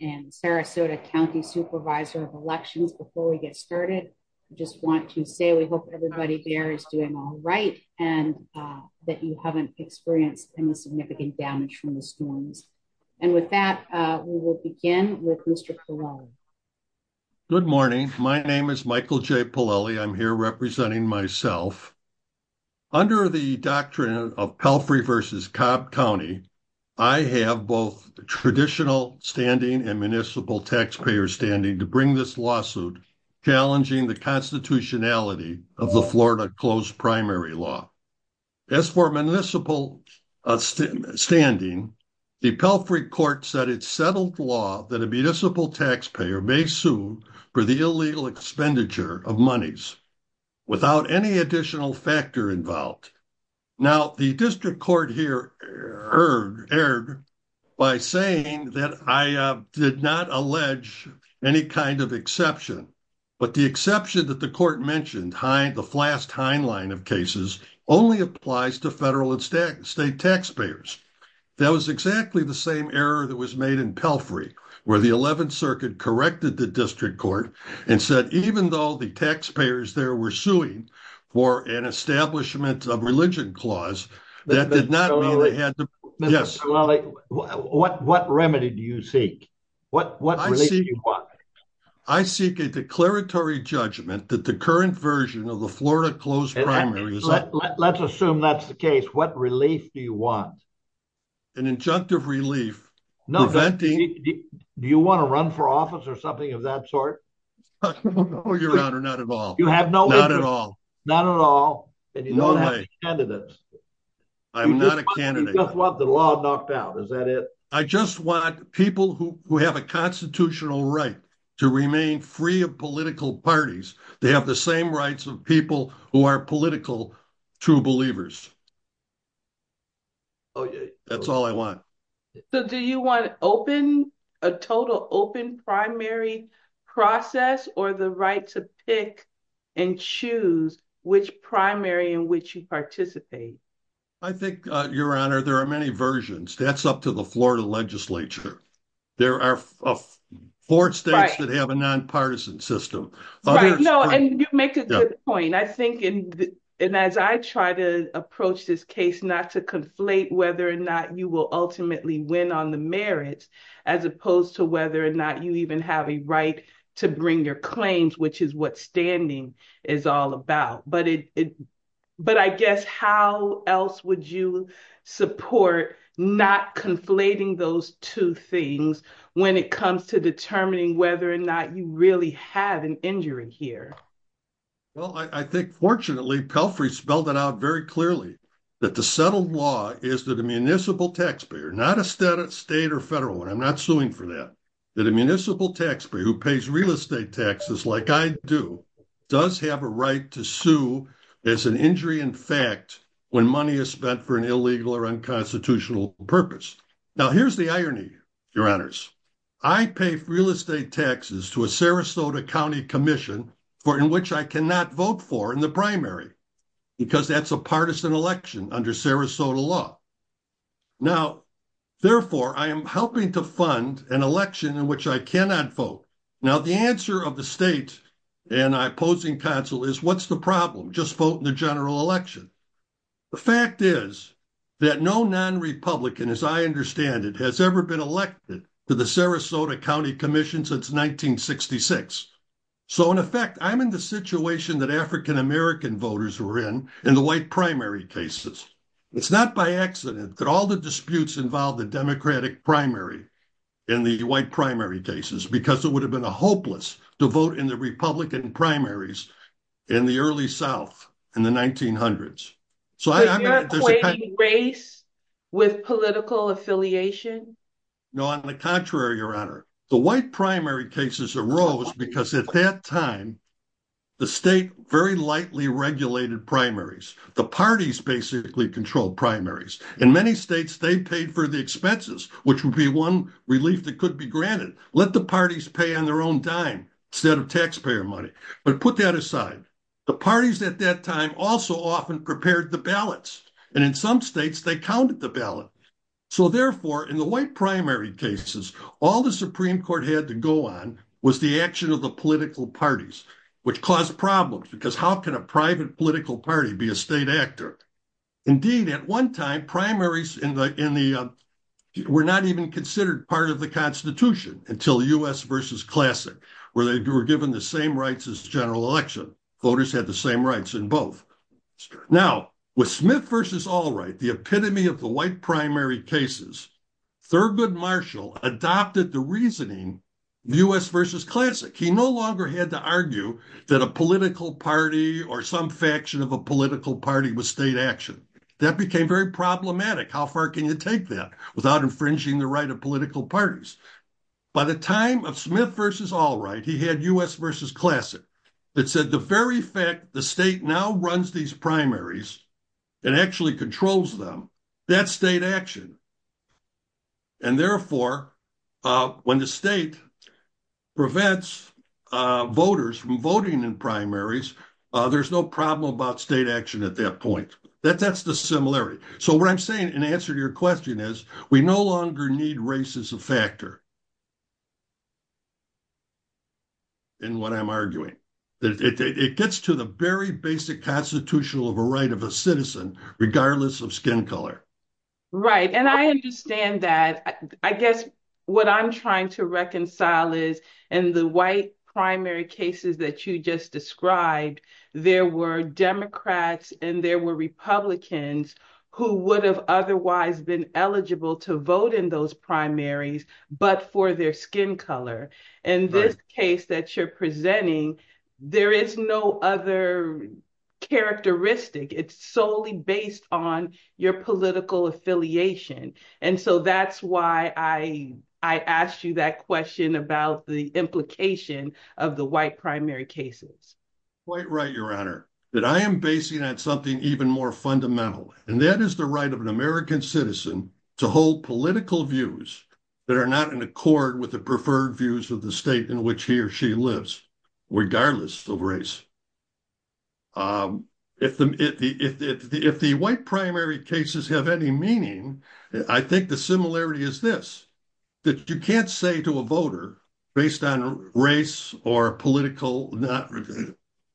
and Sarasota County Supervisor of Elections. Before we get started, I just want to say we hope everybody there is doing all right and that you haven't experienced any significant damage from the storms. And with that, we will begin with Mr. Polelle. Good morning. My name is Michael J. Polelle. I'm here representing myself. Under the doctrine of Pelfrey v. Cobb County, I have both traditional standing and municipal taxpayer standing to bring this lawsuit challenging the constitutionality of the Florida closed primary law. As for municipal standing, the Pelfrey court said it settled law that a municipal taxpayer may sue for the illegal expenditure of monies without any additional factor involved. Now, the district court here erred by saying that I did not allege any kind of exception, but the exception that the court mentioned, the Flast-Hein line of cases, only applies to federal and state taxpayers. That was exactly the same error that was made in Pelfrey, where the 11th Circuit corrected the district court and said even though the taxpayers there were suing for an establishment of religion clause, that did not mean they had to... Mr. Polelle, what remedy do you seek? What relief do you want? I seek a declaratory judgment that the current version of the Florida closed primary is... Let's assume that's the case. What relief do you want? An injunctive relief preventing... Do you want to run for office or something of that sort? Your Honor, not at all. You have no... Not at all. Not at all, and you don't have candidates. I'm not a candidate. You just want the law knocked out. Is that it? I just want people who have a constitutional right to remain free of political parties. They have the same rights of people who are political true believers. Oh, yeah. That's all I want. Do you want a total open primary process or the right to pick and choose which primary in which you participate? I think, Your Honor, there are many versions. That's up to the Florida legislature. There are four states that have a nonpartisan system. No, and you make a good point. I think, and as I try to approach this case not to conflate whether or not you will ultimately win on the merits, as opposed to whether or not you even have a right to bring your claims, which is what standing is all about. But I guess, how else would you support not conflating those two things when it comes to determining whether or not you really have an injury here? Well, I think, fortunately, Pelfrey spelled it out very clearly, that the settled law is that a municipal taxpayer, not a state or federal, and I'm not suing for that, that a municipal taxpayer who pays real estate taxes like I do does have a right to sue as an injury in fact when money is spent for an illegal or unconstitutional purpose. Now, here's the irony, Your Honors. I pay real estate taxes to a Sarasota County commission in which I cannot vote for in the primary because that's a partisan election under Sarasota law. Now, therefore, I am helping to fund an election in which I cannot vote. Now, the answer of the state and opposing counsel is, what's the problem? Just vote in the general election. The fact is that no non-Republican, as I understand it, has ever been elected to the Sarasota County commission since 1966. So, in effect, I'm in the situation that African-American voters were in in the white primary cases. It's not by accident that all the disputes involved the Democratic primary in the white primary cases because it would have been a hopeless to vote in the Republican primaries in the early South in the 1900s. But you're equating race with political affiliation? No, on the contrary, Your Honor. The white primary cases arose because at that time, the state very lightly regulated primaries. The parties basically controlled primaries. In many states, they paid for the expenses, which would be one relief that could be granted. Let the parties pay on their own dime instead of taxpayer money. But put that aside, the parties at that time also often prepared the ballots. And in some states, they counted the ballot. So, therefore, in the white primary cases, all the Supreme Court had to go on was the action of the political parties, which caused problems because how can a private political party be a state actor? Indeed, at one time, primaries were not even considered part of the Constitution until U.S. v. Classic, where they were given the same rights as the general election. Voters had the same rights in both. Now, with Smith v. Allwright, the epitome of the white primary cases, Thurgood Marshall adopted the reasoning U.S. v. Classic. He no longer had to argue that a political party or some faction of a political party was state action. That became very problematic. How far can you take that without infringing the right of political parties? By the time of Smith v. Allwright, he had U.S. v. Classic that said the very fact the state now runs these primaries and actually controls them, that's state action. Therefore, when the state prevents voters from voting in primaries, there's no problem about state action at that point. That's the similarity. So what I'm saying in answer to your question is we no longer need race as a factor in what I'm arguing. It gets to the very basic constitutional right of a citizen, regardless of skin color. Right. And I understand that. I guess what I'm trying to reconcile is in the white primary cases that you just described, there were Democrats and there were Republicans who would have otherwise been eligible to vote in those primaries, but for their skin color. In this case that you're presenting, there is no other characteristic. It's solely based on your political affiliation. And so that's why I asked you that question about the implication of the white primary cases. Quite right, Your Honor, that I am basing on something even more fundamental, and that is the right of an American citizen to hold political views that are not in accord with the preferred views of the state in which he or she lives, regardless of race. If the white primary cases have any meaning, I think the similarity is this, that you can't say to a voter based on race or political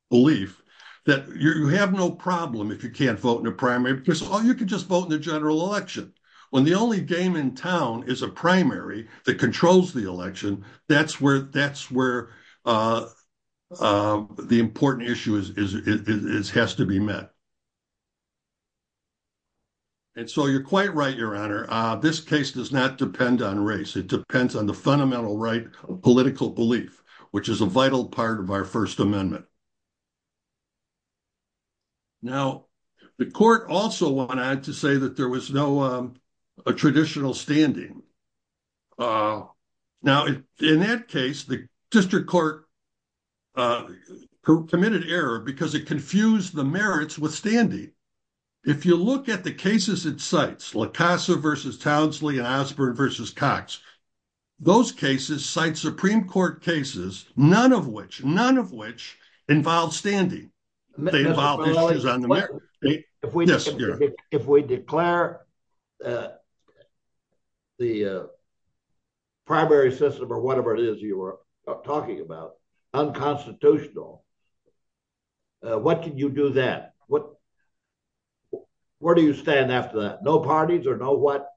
belief that you have no problem if you can't vote in a primary, because all you can just vote in the general election. When the only game in town is a primary that controls the election, that's where the important issue has to be met. And so you're quite right, Your Honor, this case does not depend on race. It depends on the fundamental right of political belief, which is a vital part of our First Amendment. Now, the court also went on to say that there was no traditional standing. Now, in that case, the district court committed error because it confused the merits with standing. If you look at the cases it cites, La Casa versus Townsley and Osborne versus Cox, those cases cite Supreme Court cases, none of which involve standing. Mr. Morelle, if we declare the primary system or whatever it is you were talking about unconstitutional, what can you do then? Where do you stand after that? No parties or no what?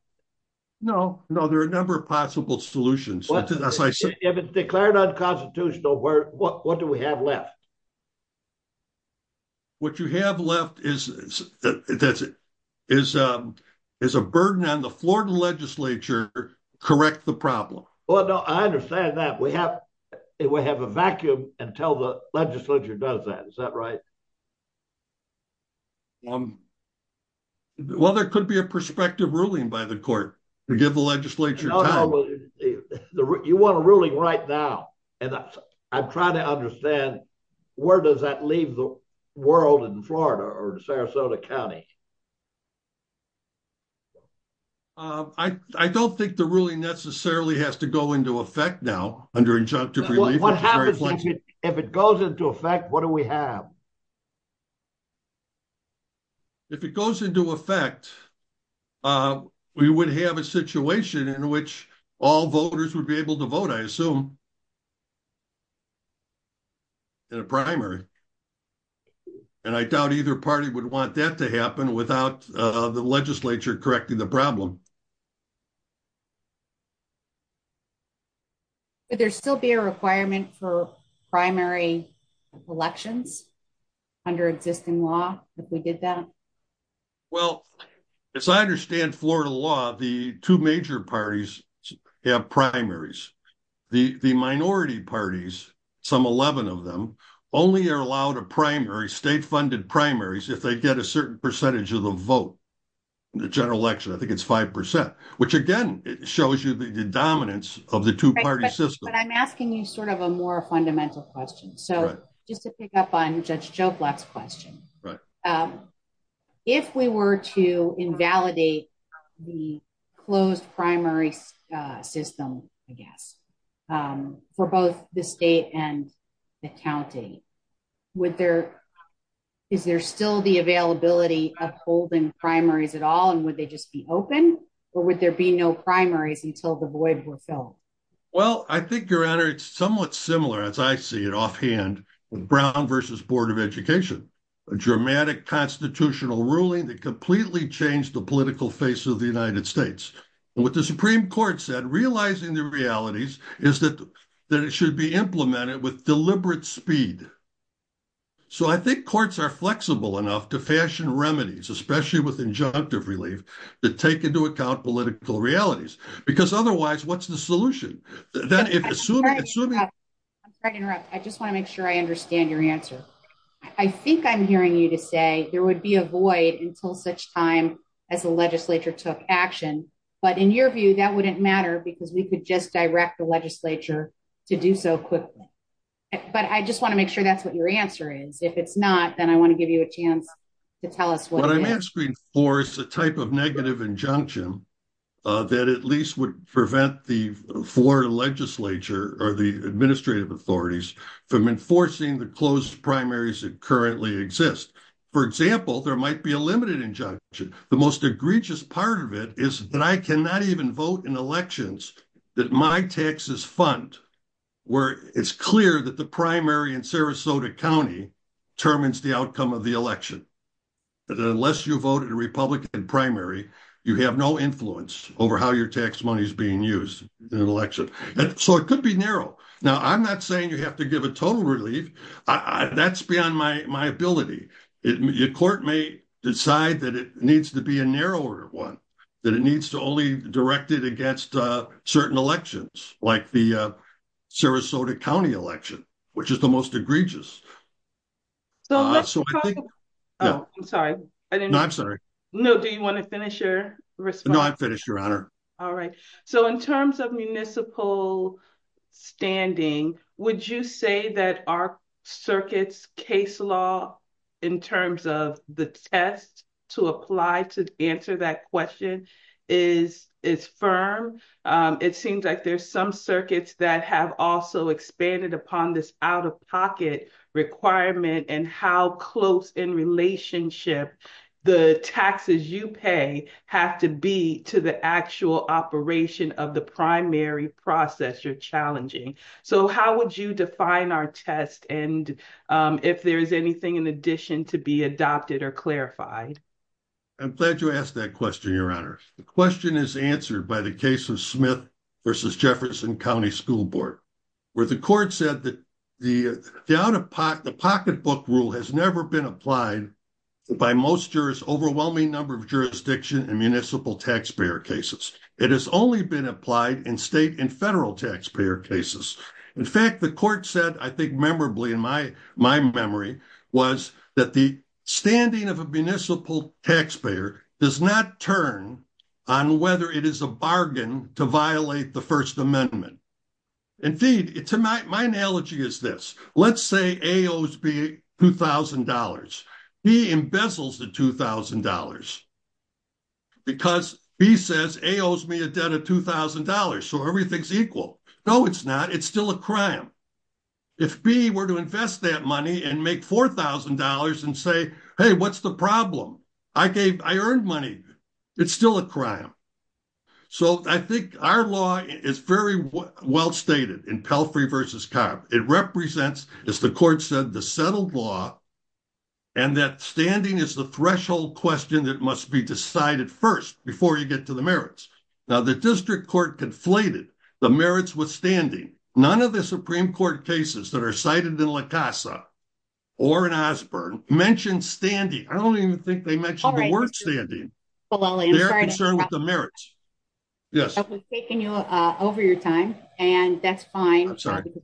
No, no, there are a number of possible solutions. If it's declared unconstitutional, what do we have left? What you have left is a burden on the Florida legislature to correct the problem. Well, no, I understand that. We have a vacuum until the legislature does that. Is that right? Well, there could be a prospective ruling by the court to give the legislature time. No, no, you want a ruling right now. I'm trying to understand where does that leave the world in Florida or Sarasota County? I don't think the ruling necessarily has to go into effect now under injunctive relief. What happens if it goes into effect? What do we have? If it goes into effect, we would have a situation in which all voters would be able to vote, I assume, in a primary. I doubt either party would want that to happen without the legislature correcting the problem. Would there still be a requirement for primary elections under existing law if we did that? Well, as I understand Florida law, the two major parties have primaries. The minority parties, some 11 of them, only are allowed a primary, state-funded primaries, if they get a certain percentage of the vote in the general election. I think it's 5%, which again shows you the dominance of the two-party system. I'm asking you a more fundamental question. So just to pick up on Judge Joblock's question, if we were to invalidate the closed primary system, I guess, for both the state and the county, is there still the availability of holding primaries at all, and would they just be open, or would there be no primaries until the void were filled? Well, I think, Your Honor, it's somewhat similar, as I see it offhand, with Brown v. Board of Education, a dramatic constitutional ruling that completely changed the political face of the United States. What the Supreme Court said, realizing the realities, is that it should be implemented with deliberate speed. So I think courts are flexible enough to fashion remedies, especially with injunctive relief, to take into account political realities. Because otherwise, what's the solution? I'm sorry to interrupt. I just want to make sure I understand your answer. I think I'm hearing you to say there would be a void until such time as the legislature took action. But in your view, that wouldn't matter, because we could just direct the legislature to do so quickly. But I just want to make sure that's what your answer is. If it's not, then I want to give you a chance to tell us what it is. What I'm asking for is a type of negative injunction that at least would prevent the floor legislature, or the administrative authorities, from enforcing the closed primaries that currently exist. For example, there might be a limited injunction. The most egregious part of it is that I cannot even vote in elections that my taxes fund, where it's clear that the primary in Sarasota County determines the outcome of the election. Unless you vote in a Republican primary, you have no influence over how your tax money is being used in an election. So it could be narrow. Now, I'm not saying you have to give a total relief. That's beyond my ability. Your court may decide that it needs to be a narrower one, that it needs to only direct it against certain elections, like the Sarasota County election, which is the most egregious. So let's talk about... Oh, I'm sorry. No, I'm sorry. No, do you want to finish your response? No, I'm finished, Your Honor. All right. So in terms of municipal standing, would you say that our circuit's case law, in terms of the test to apply to answer that question, is firm? It seems like there's some circuits that have also expanded upon this out-of-pocket requirement and how close in relationship the taxes you pay have to be to the actual operation of the primary process you're challenging. So how would you define our test and if there's anything in addition to be adopted or clarified? I'm glad you asked that question, Your Honor. The question is answered by the case of Smith versus Jefferson County School Board, where the court said that the out-of-pocket, the pocketbook rule has never been applied by most overwhelming number of jurisdiction in municipal taxpayer cases. It has only been applied in state and federal taxpayer cases. In fact, the court said, I think memorably in my memory, was that the standing of a municipal taxpayer does not turn on whether it is a bargain to violate the First Amendment. Indeed, my analogy is this. Let's say A owes B $2,000. B embezzles the $2,000 because B says A owes me a debt of $2,000, so everything's equal. No, it's not. It's still a crime. If B were to invest that money and make $4,000 and say, hey, what's the problem? I gave, I earned money. It's still a crime. So I think our law is very well stated in Pelfrey versus Cobb. It represents, as the court said, the settled law and that standing is the threshold question that must be decided first before you get to the merits. Now, the district court conflated the merits with standing. None of the Supreme Court cases that are cited in La Casa or in Osborne mentioned standing. I don't even think they mentioned the word standing. They're concerned with the merits. I was taking you over your time, and that's fine.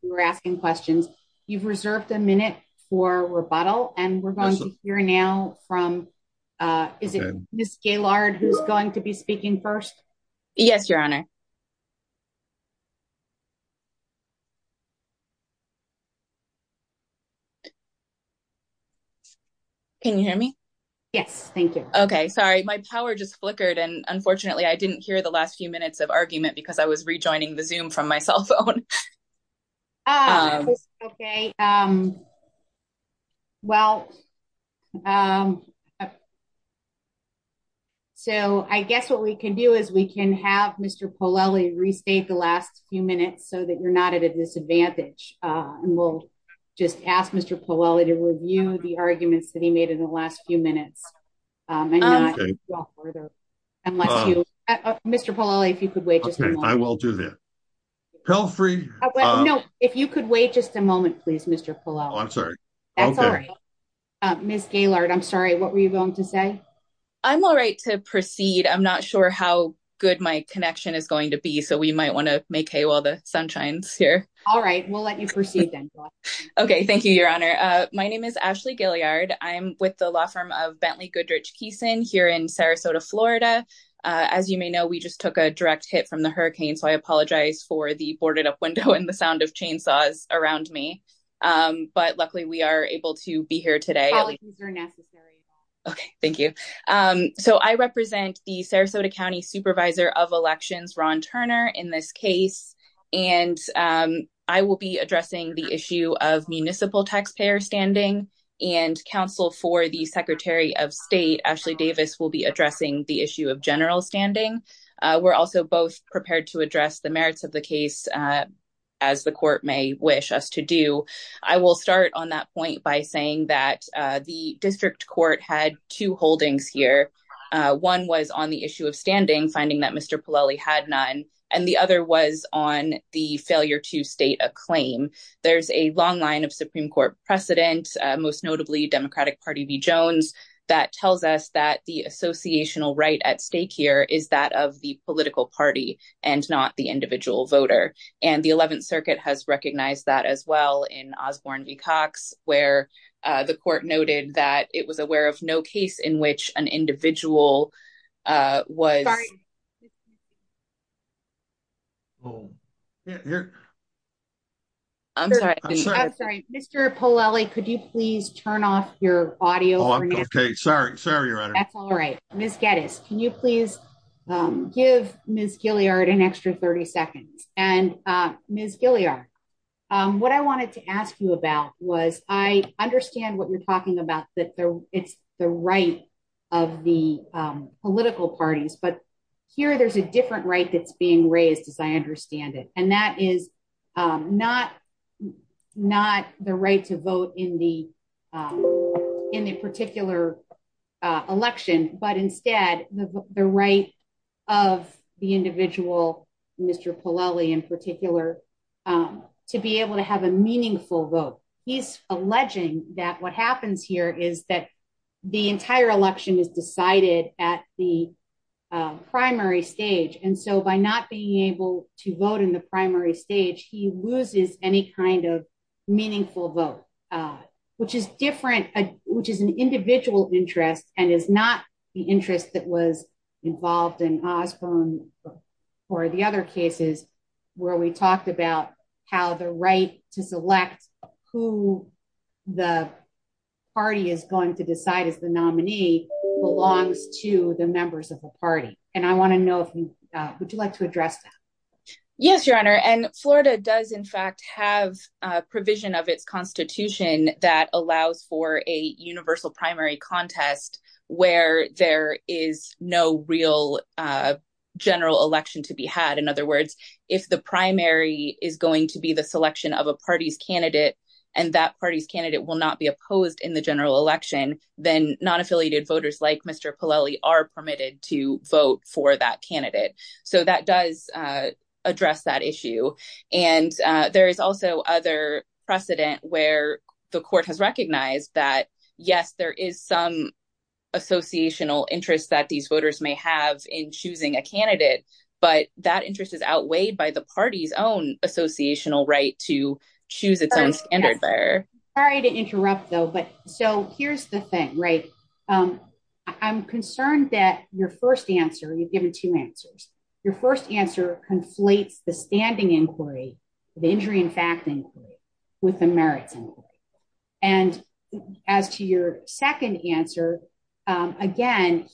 We're asking questions. You've reserved a minute for rebuttal, and we're going to hear now from, is it Ms. Gaylord who's going to be speaking first? Yes, Your Honor. Can you hear me? Yes, thank you. Okay, sorry. My power just flickered, and unfortunately, I didn't hear the last few minutes of argument because I was rejoining the Zoom from my cell phone. Okay, well, so I guess what we can do is we can have Mr. Polelli restate the last few minutes so that you're not at a disadvantage, and we'll just ask Mr. Polelli to review the arguments that he made in the last few minutes. Mr. Polelli, if you could wait just a moment. I will do that. No, if you could wait just a moment, please, Mr. Polelli. I'm sorry. That's all right. Ms. Gaylord, I'm sorry. What were you going to say? I'm all right to proceed. I'm not sure how good my connection is going to be, so we might want to make hay while the sun shines here. All right, we'll let you proceed then. Okay, thank you, Your Honor. My name is Ashley Gilyard. I'm with the law firm of Bentley Goodrich Keeson here in Sarasota, Florida. As you may know, we just took a direct hit from the hurricane, so I apologize for the boarded-up window and the sound of chainsaws around me, but luckily we are able to be here today. Apologies are necessary. Okay, thank you. So I represent the Sarasota County Supervisor of Elections, Ron Turner, in this case, and I will be addressing the issue of municipal taxpayer standing and counsel for the Secretary of State, Ashley Davis, will be addressing the issue of general standing. We're also both prepared to address the merits of the case, as the court may wish us to do. I will start on that point by saying that the district court had two holdings here. One was on the issue of standing, finding that Mr. Polelli had none, and the other was on the failure to state a claim. There's a long line of Supreme Court precedent, most notably Democratic Party v. Jones, that tells us that the associational right at stake here is that of the political party and not the individual voter. And the 11th Circuit has recognized that as well in Osborne v. Cox, where the court noted that it was aware of no case in which an individual was— I'm sorry. Mr. Polelli, could you please turn off your audio? Oh, I'm okay. Sorry, Your Honor. That's all right. Ms. Geddes, can you please give Ms. Gilliard an extra 30 seconds? And Ms. Gilliard, what I wanted to ask you about was, I understand what you're talking about, that it's the right of the political parties, but here there's a different right that's being raised, as I understand it, and that is not the right to vote in the particular election, but instead the right of the individual, Mr. Polelli in particular, to be able to have a meaningful vote. He's alleging that what happens here is that the entire election is decided at the primary stage, and so by not being able to vote in the primary stage, he loses any kind of meaningful vote, which is an individual interest and is not the interest that was involved in Osborne or the other cases where we talked about how the right to select who the party is going to decide as the nominee belongs to the members of the party, and I want to know, would you like to address that? Yes, Your Honor, and Florida does in fact have a provision of its constitution that allows for a universal primary contest where there is no real general election to be had. In other words, if the primary is going to be the selection of a party's candidate, and that party's candidate will not be opposed in the general election, then non-affiliated voters like Mr. Polelli are permitted to vote for that candidate, so that does address that issue, and there is also other precedent where the court has recognized that yes, there is some associational interest that these voters may have in choosing a candidate, but that interest is outweighed by the party's own associational right to choose its own standard bearer. Sorry to interrupt though, but so here's the thing, right? I'm concerned that your first answer, you've given two answers, your first answer conflates the standing inquiry, the injury in fact inquiry, with the merits inquiry, and as to your second answer, again,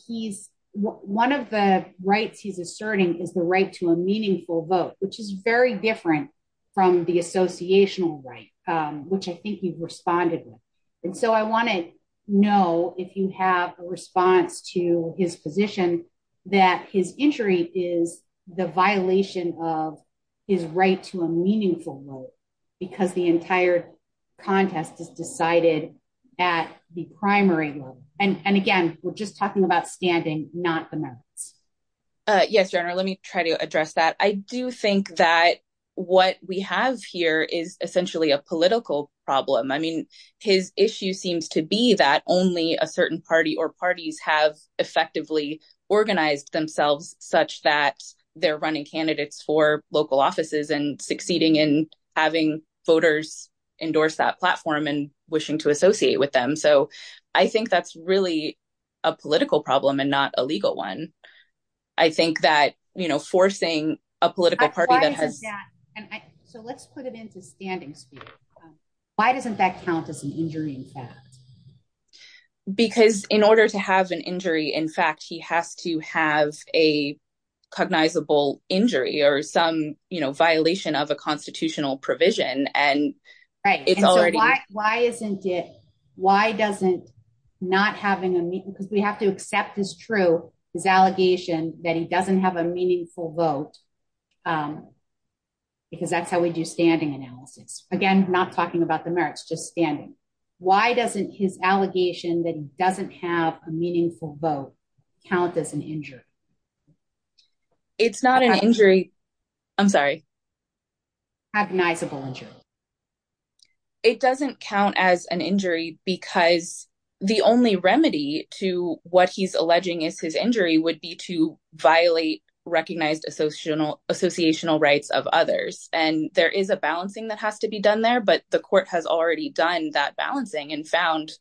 one of the rights he's asserting is the right to a meaningful vote, which is very different from the associational right, which I think you've responded with, and so I want to know if you have a response to his position that his injury is the violation of his right to a meaningful vote, because the entire contest is decided at the primary level, and again, we're just talking about standing, not the merits. Yes, your honor, let me try to address that. I do think that what we have here is essentially a political problem. I mean, his issue seems to be that only a certain party or parties have effectively organized themselves such that they're running candidates for local offices and succeeding in having voters endorse that platform and wishing to associate with them, so I think that's really a political problem and not a legal one. I think that, you know, forcing a political party that has... So let's put it into standing speech. Why doesn't that count as an injury in fact? Because in order to have an injury in fact, he has to have a cognizable injury or some, you know, violation of a constitutional provision, and it's already... Right, and so why isn't it... Why doesn't not having a... Because we have to accept as true his allegation that he doesn't have a meaningful vote, because that's how we do standing analysis. Again, not talking about the merits, just standing. Why doesn't his allegation that he doesn't have a meaningful vote count as an injury? It's not an injury. I'm sorry. Cognizable injury. It doesn't count as an injury because the only remedy to what he's alleging is his injury would be to violate recognized associational rights of others, and there is a balancing that has to be done there, but the court has already done that balancing and found...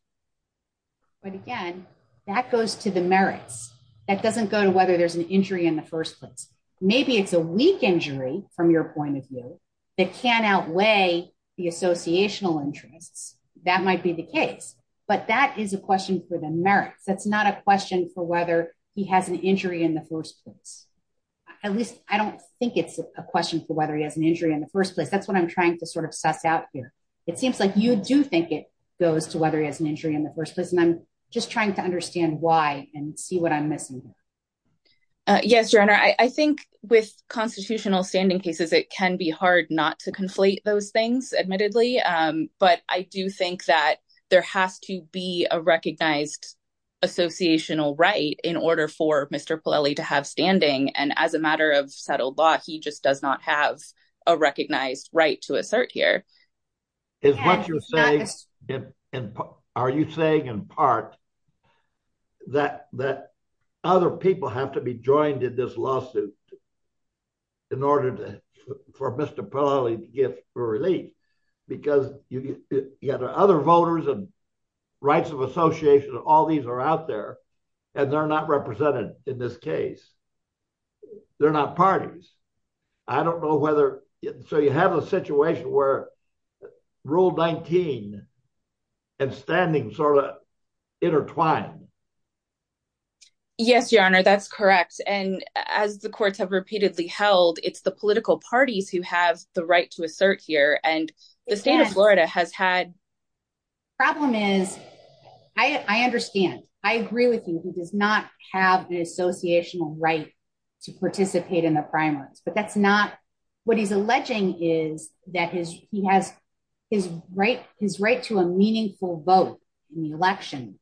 But again, that goes to the merits. That doesn't go to whether there's injury in the first place. Maybe it's a weak injury from your point of view that can outweigh the associational interests. That might be the case, but that is a question for the merits. That's not a question for whether he has an injury in the first place. At least, I don't think it's a question for whether he has an injury in the first place. That's what I'm trying to sort of suss out here. It seems like you do think it goes to whether he has an injury in the first place, and I'm just trying to understand why and see what I'm missing here. Yes, Your Honor. I think with constitutional standing cases, it can be hard not to conflate those things, admittedly, but I do think that there has to be a recognized associational right in order for Mr. Polelli to have standing, and as a matter of settled law, he just does not have a recognized right to assert here. Are you saying, in part, that other people have to be joined in this lawsuit for Mr. Polelli to get a relief because you have other voters and rights of association, all these are out there, and they're not represented in this case. They're not parties. I don't know whether, so you have a situation where Rule 19 and standing sort of intertwine. Yes, Your Honor, that's correct, and as the courts have repeatedly held, it's the political parties who have the right to assert here, and the state of Florida has had. Problem is, I understand. I agree with you. He does not have an associational right to participate in the primaries, but what he's alleging is that his right to a meaningful vote in the election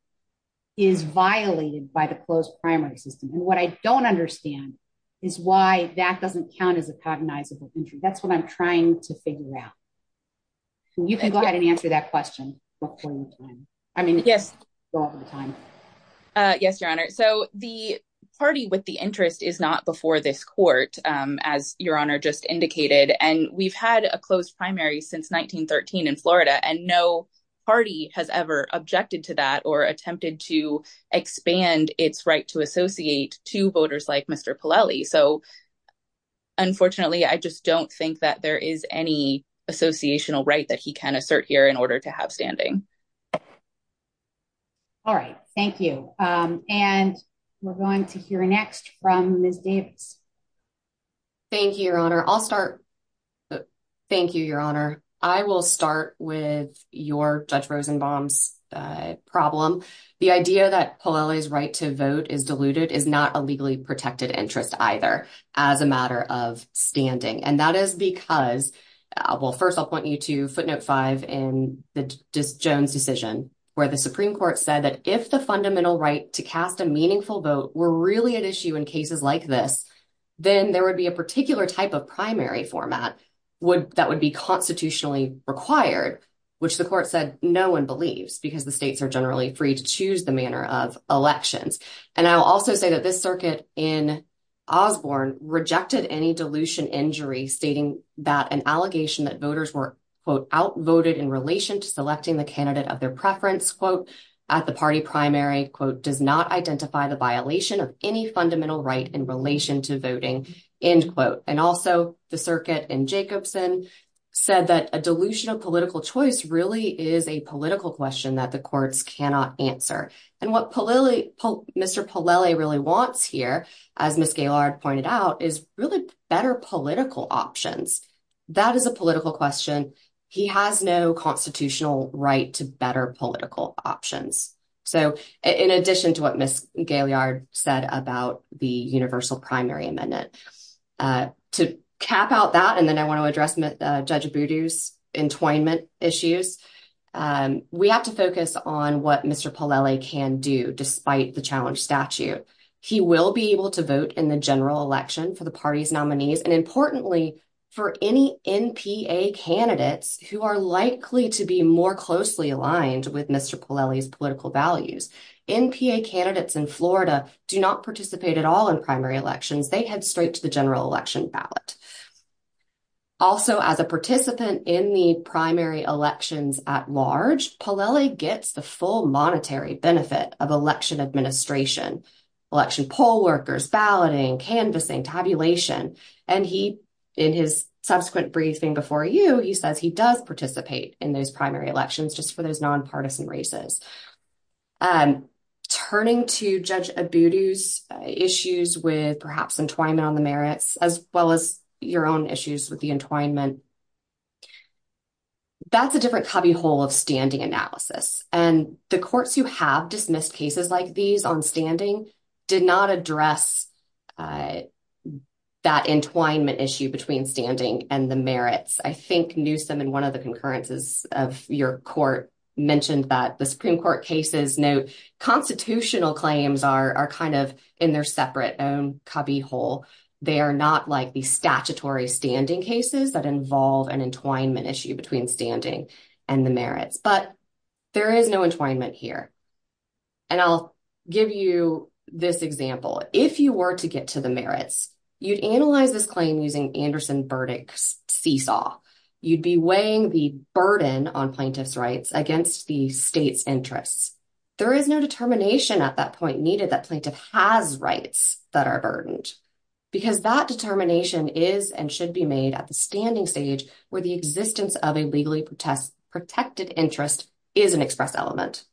is violated by the closed primary system, and what I don't understand is why that doesn't count as a cognizable injury. That's what I'm trying to figure out. You can go ahead and answer that question. Yes, Your Honor, so the party with the interest is not before this court, as Your Honor just indicated, and we've had a closed primary since 1913 in Florida, and no party has ever objected to that or attempted to expand its right to associate to voters like Mr. Polelli, so unfortunately, I just don't think that there is any associational right that he can assert here in order to have standing. All right, thank you, and we're going to hear next from Ms. Davis. Thank you, Your Honor. I'll start. Thank you, Your Honor. I will start with your Judge Rosenbaum's problem. The idea that Polelli's right to vote is diluted is not a legally protected interest either as a matter of standing, and that is because, well, first I'll point you to footnote five in the Jones decision where the Supreme Court said that if the fundamental right to cast a meaningful vote were really at issue in cases like this, then there would be a particular type of primary format that would be constitutionally required, which the court said no one believes because the states are generally free to choose the manner of elections, and I'll also say that this circuit in Osborne rejected any dilution injury stating that an allegation that voters were, quote, outvoted in relation to selecting the candidate of their preference, quote, at the party primary, quote, does not identify the violation of any fundamental right in relation to voting, end quote, and also the circuit in Jacobson said that a dilution of political choice really is a political question that the courts cannot answer, and what Mr. Polelli really wants here, as Ms. Gaylord pointed out, is really better political options. That is a political question. He has no constitutional right to better political options. So in addition to what Ms. Gaylord said about the universal primary amendment, to cap out that, and then I want to address Judge Abudu's entwinement issues, we have to focus on what Mr. Polelli can do despite the challenge statute. He will be able to vote in the general election for the party's nominees, and importantly, for any NPA candidates who are likely to be more closely aligned with Mr. Polelli's political values. NPA candidates in Florida do not participate at all in primary elections. They head straight to the general election ballot. Also, as a participant in the primary elections at large, Polelli gets the full canvassing, tabulation, and he, in his subsequent briefing before you, he says he does participate in those primary elections just for those nonpartisan races. Turning to Judge Abudu's issues with perhaps entwinement on the merits, as well as your own issues with the entwinement, that's a different cubbyhole of standing analysis, and the courts who have dismissed cases like these on standing did not address that entwinement issue between standing and the merits. I think Newsom in one of the concurrences of your court mentioned that the Supreme Court cases note constitutional claims are kind of in their separate own cubbyhole. They are not like the statutory standing cases that involve an entwinement issue between standing and the merits. Let me give you this example. If you were to get to the merits, you'd analyze this claim using Anderson Burdick's seesaw. You'd be weighing the burden on plaintiff's rights against the state's interests. There is no determination at that point needed that plaintiff has rights that are burdened because that determination is and should be made at the standing stage where the existence of a legally protected interest is an express element.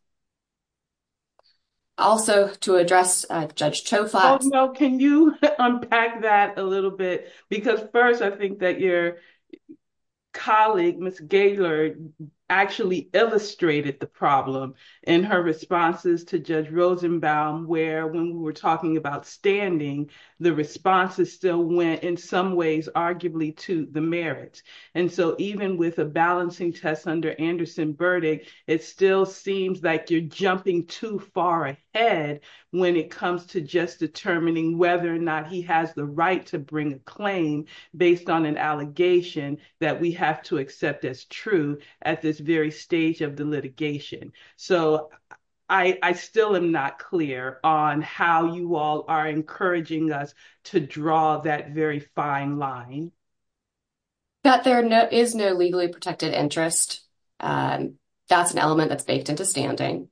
Also, to address Judge Choufax, can you unpack that a little bit? Because first, I think that your colleague, Ms. Gaylord, actually illustrated the problem in her responses to Judge Rosenbaum, where when we were talking about standing, the responses still went in some ways arguably to the merits. And so even with a balancing test under Anderson Burdick, it still seems that you're jumping too far ahead when it comes to just determining whether or not he has the right to bring a claim based on an allegation that we have to accept as true at this very stage of the litigation. So I still am not clear on how you all are encouraging us to draw that very fine line. That there is no legally protected interest, that's an element that's baked into standing.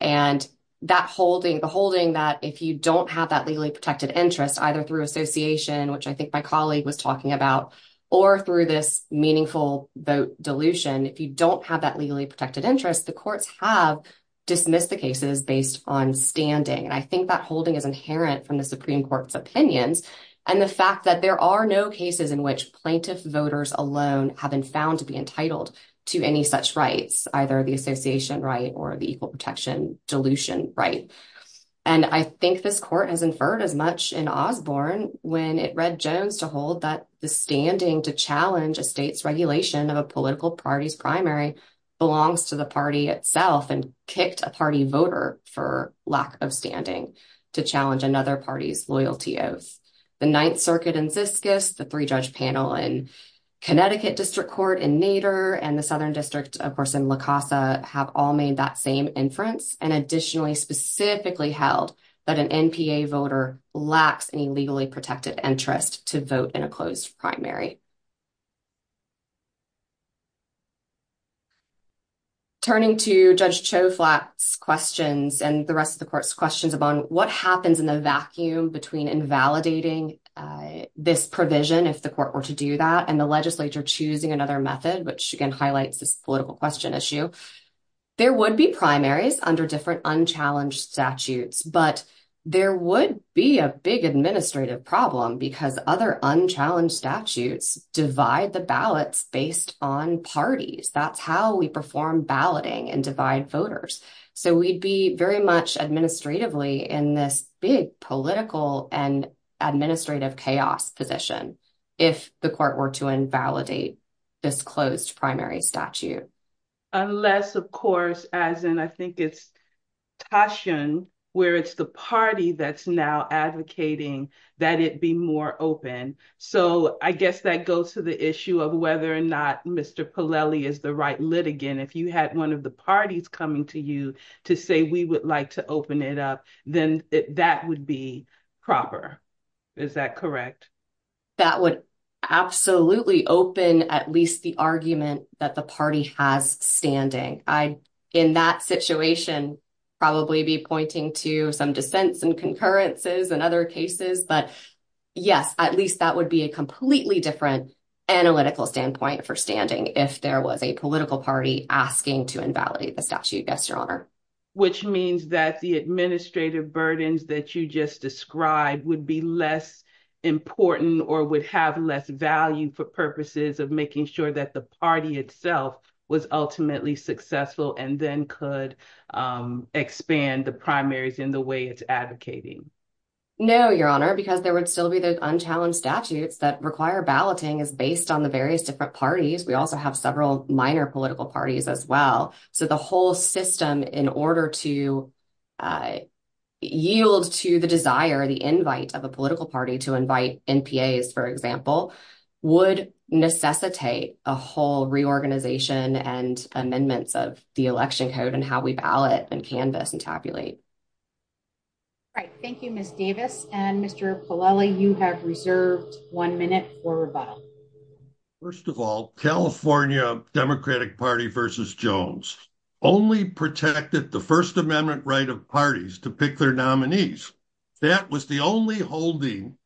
And that holding, the holding that if you don't have that legally protected interest, either through association, which I think my colleague was talking about, or through this meaningful vote dilution, if you don't have that legally protected interest, the courts have dismissed the cases based on standing. And I think that holding is inherent from the Supreme Court's opinions and the fact that there are no cases in which plaintiff voters alone have been found to be entitled to any such rights, either the association right or the equal protection dilution right. And I think this court has inferred as much in Osborne when it read Jones to hold that the standing to challenge a state's regulation of a political party's primary belongs to the party itself and kicked a party voter for lack of standing to challenge another party's loyalty oath. The Ninth Circuit in Siskis, the three-judge panel in Connecticut District Court in Nader, and the Southern District, of course, in La Casa, have all made that same inference and additionally specifically held that an NPA voter lacks any legally protected interest to vote in a closed primary. Turning to Judge Choflat's questions and the rest of the court's questions about what happens in the vacuum between invalidating this provision if the court were to do that and the legislature choosing another method, which again highlights this political question issue, there would be primaries under different unchallenged statutes, but there would be a big administrative problem because other unchallenged statutes divide the ballots based on parties. That's how we perform balloting and divide voters. So we'd be very much administratively in this big political and administrative chaos position if the court were to invalidate this closed primary statute. Unless, of course, as in I think it's Tashian where it's the party that's now advocating that it be more open. So I guess that goes to the issue of whether or not Mr. Pollelli is the right litigant. If you had one of the parties coming to you to say we would like to open it up, then that would be proper. Is that correct? That would absolutely open at least the argument that the party has standing. I, in that situation, probably be pointing to some dissents and concurrences and other cases, but yes, at least that would be a completely different analytical standpoint for standing if there was a political party asking to invalidate the statute, yes, your honor. Which means that the administrative burdens that you just described would be less important or would have less value for purposes of making sure that the party itself was ultimately successful and then could expand the primaries in the way it's advocating. No, your honor, because there would still be those unchallenged statutes that require balloting is based on the various different parties. We also have several minor political parties as well. So the whole system in order to yield to the desire, the invite of a political party to invite NPAs, for example, would necessitate a whole reorganization and amendments of the election code and how we ballot and canvass and tabulate. All right, thank you, Ms. Davis. And Mr. Polelli, you have reserved one minute for rebuttal. First of all, California Democratic Party versus Jones only protected the First Amendment right of parties to pick their nominees. That was the only holding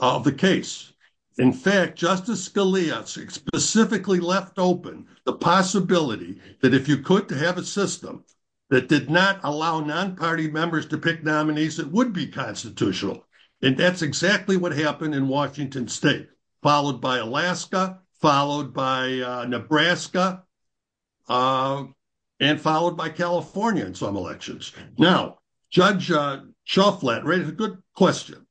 of the case. In fact, Justice Scalia specifically left open the possibility that if you could to have a system that did not allow non-party members to pick nominees, it would be constitutional. And that's exactly what happened in Washington State, followed by Alaska, followed by Nebraska, and followed by California in some elections. Now, Judge Shufflat raised a good question.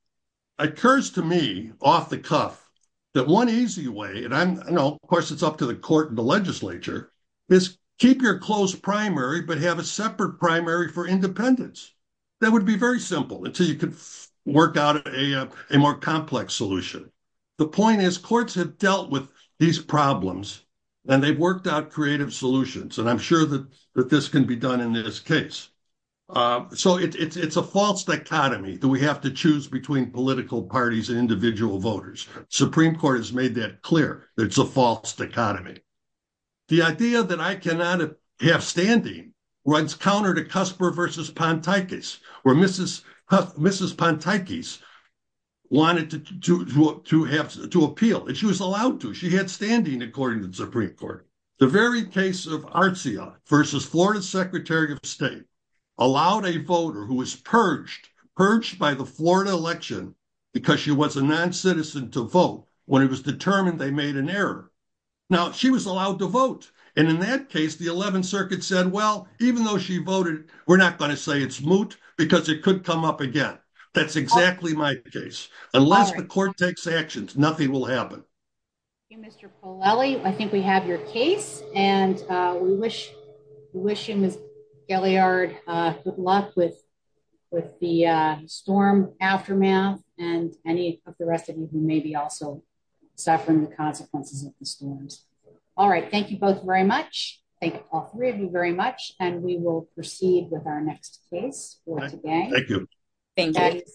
It occurs to me off the cuff that one easy way, and I know, of course, it's up to the court and the legislature, is keep your close primary, but have a separate primary for independents. That would be very simple until you could work out a more complex solution. The point is courts have dealt with these problems and they've worked out creative solutions. And I'm sure that this can be done in this case. So it's a false dichotomy that we have to choose between political parties and individual voters. The Supreme Court has made that clear. It's a false dichotomy. The idea that I cannot have standing runs counter to Cusper versus Pontikus, where Mrs. Pontikus wanted to appeal, and she was allowed to. She had standing, according to the Supreme Court. The very case of Arcea versus Florida Secretary of State allowed a voter who was purged, purged by the Florida election because she was a non-citizen, to vote when it was determined they made an error. Now, she was allowed to vote. And in that case, the 11th Circuit said, well, even though she voted, we're not going to say it's moot because it could come up again. That's exactly my case. Unless the court takes actions, nothing will happen. Thank you, Mr. Polelli. I think we have your case. And we wish you, Ms. Gelliard, good luck with the storm aftermath and any of the rest of you who may be also suffering the consequences of the storms. All right. Thank you both very much. Thank all three of you very much. And we will proceed with our next case for today. Thank you.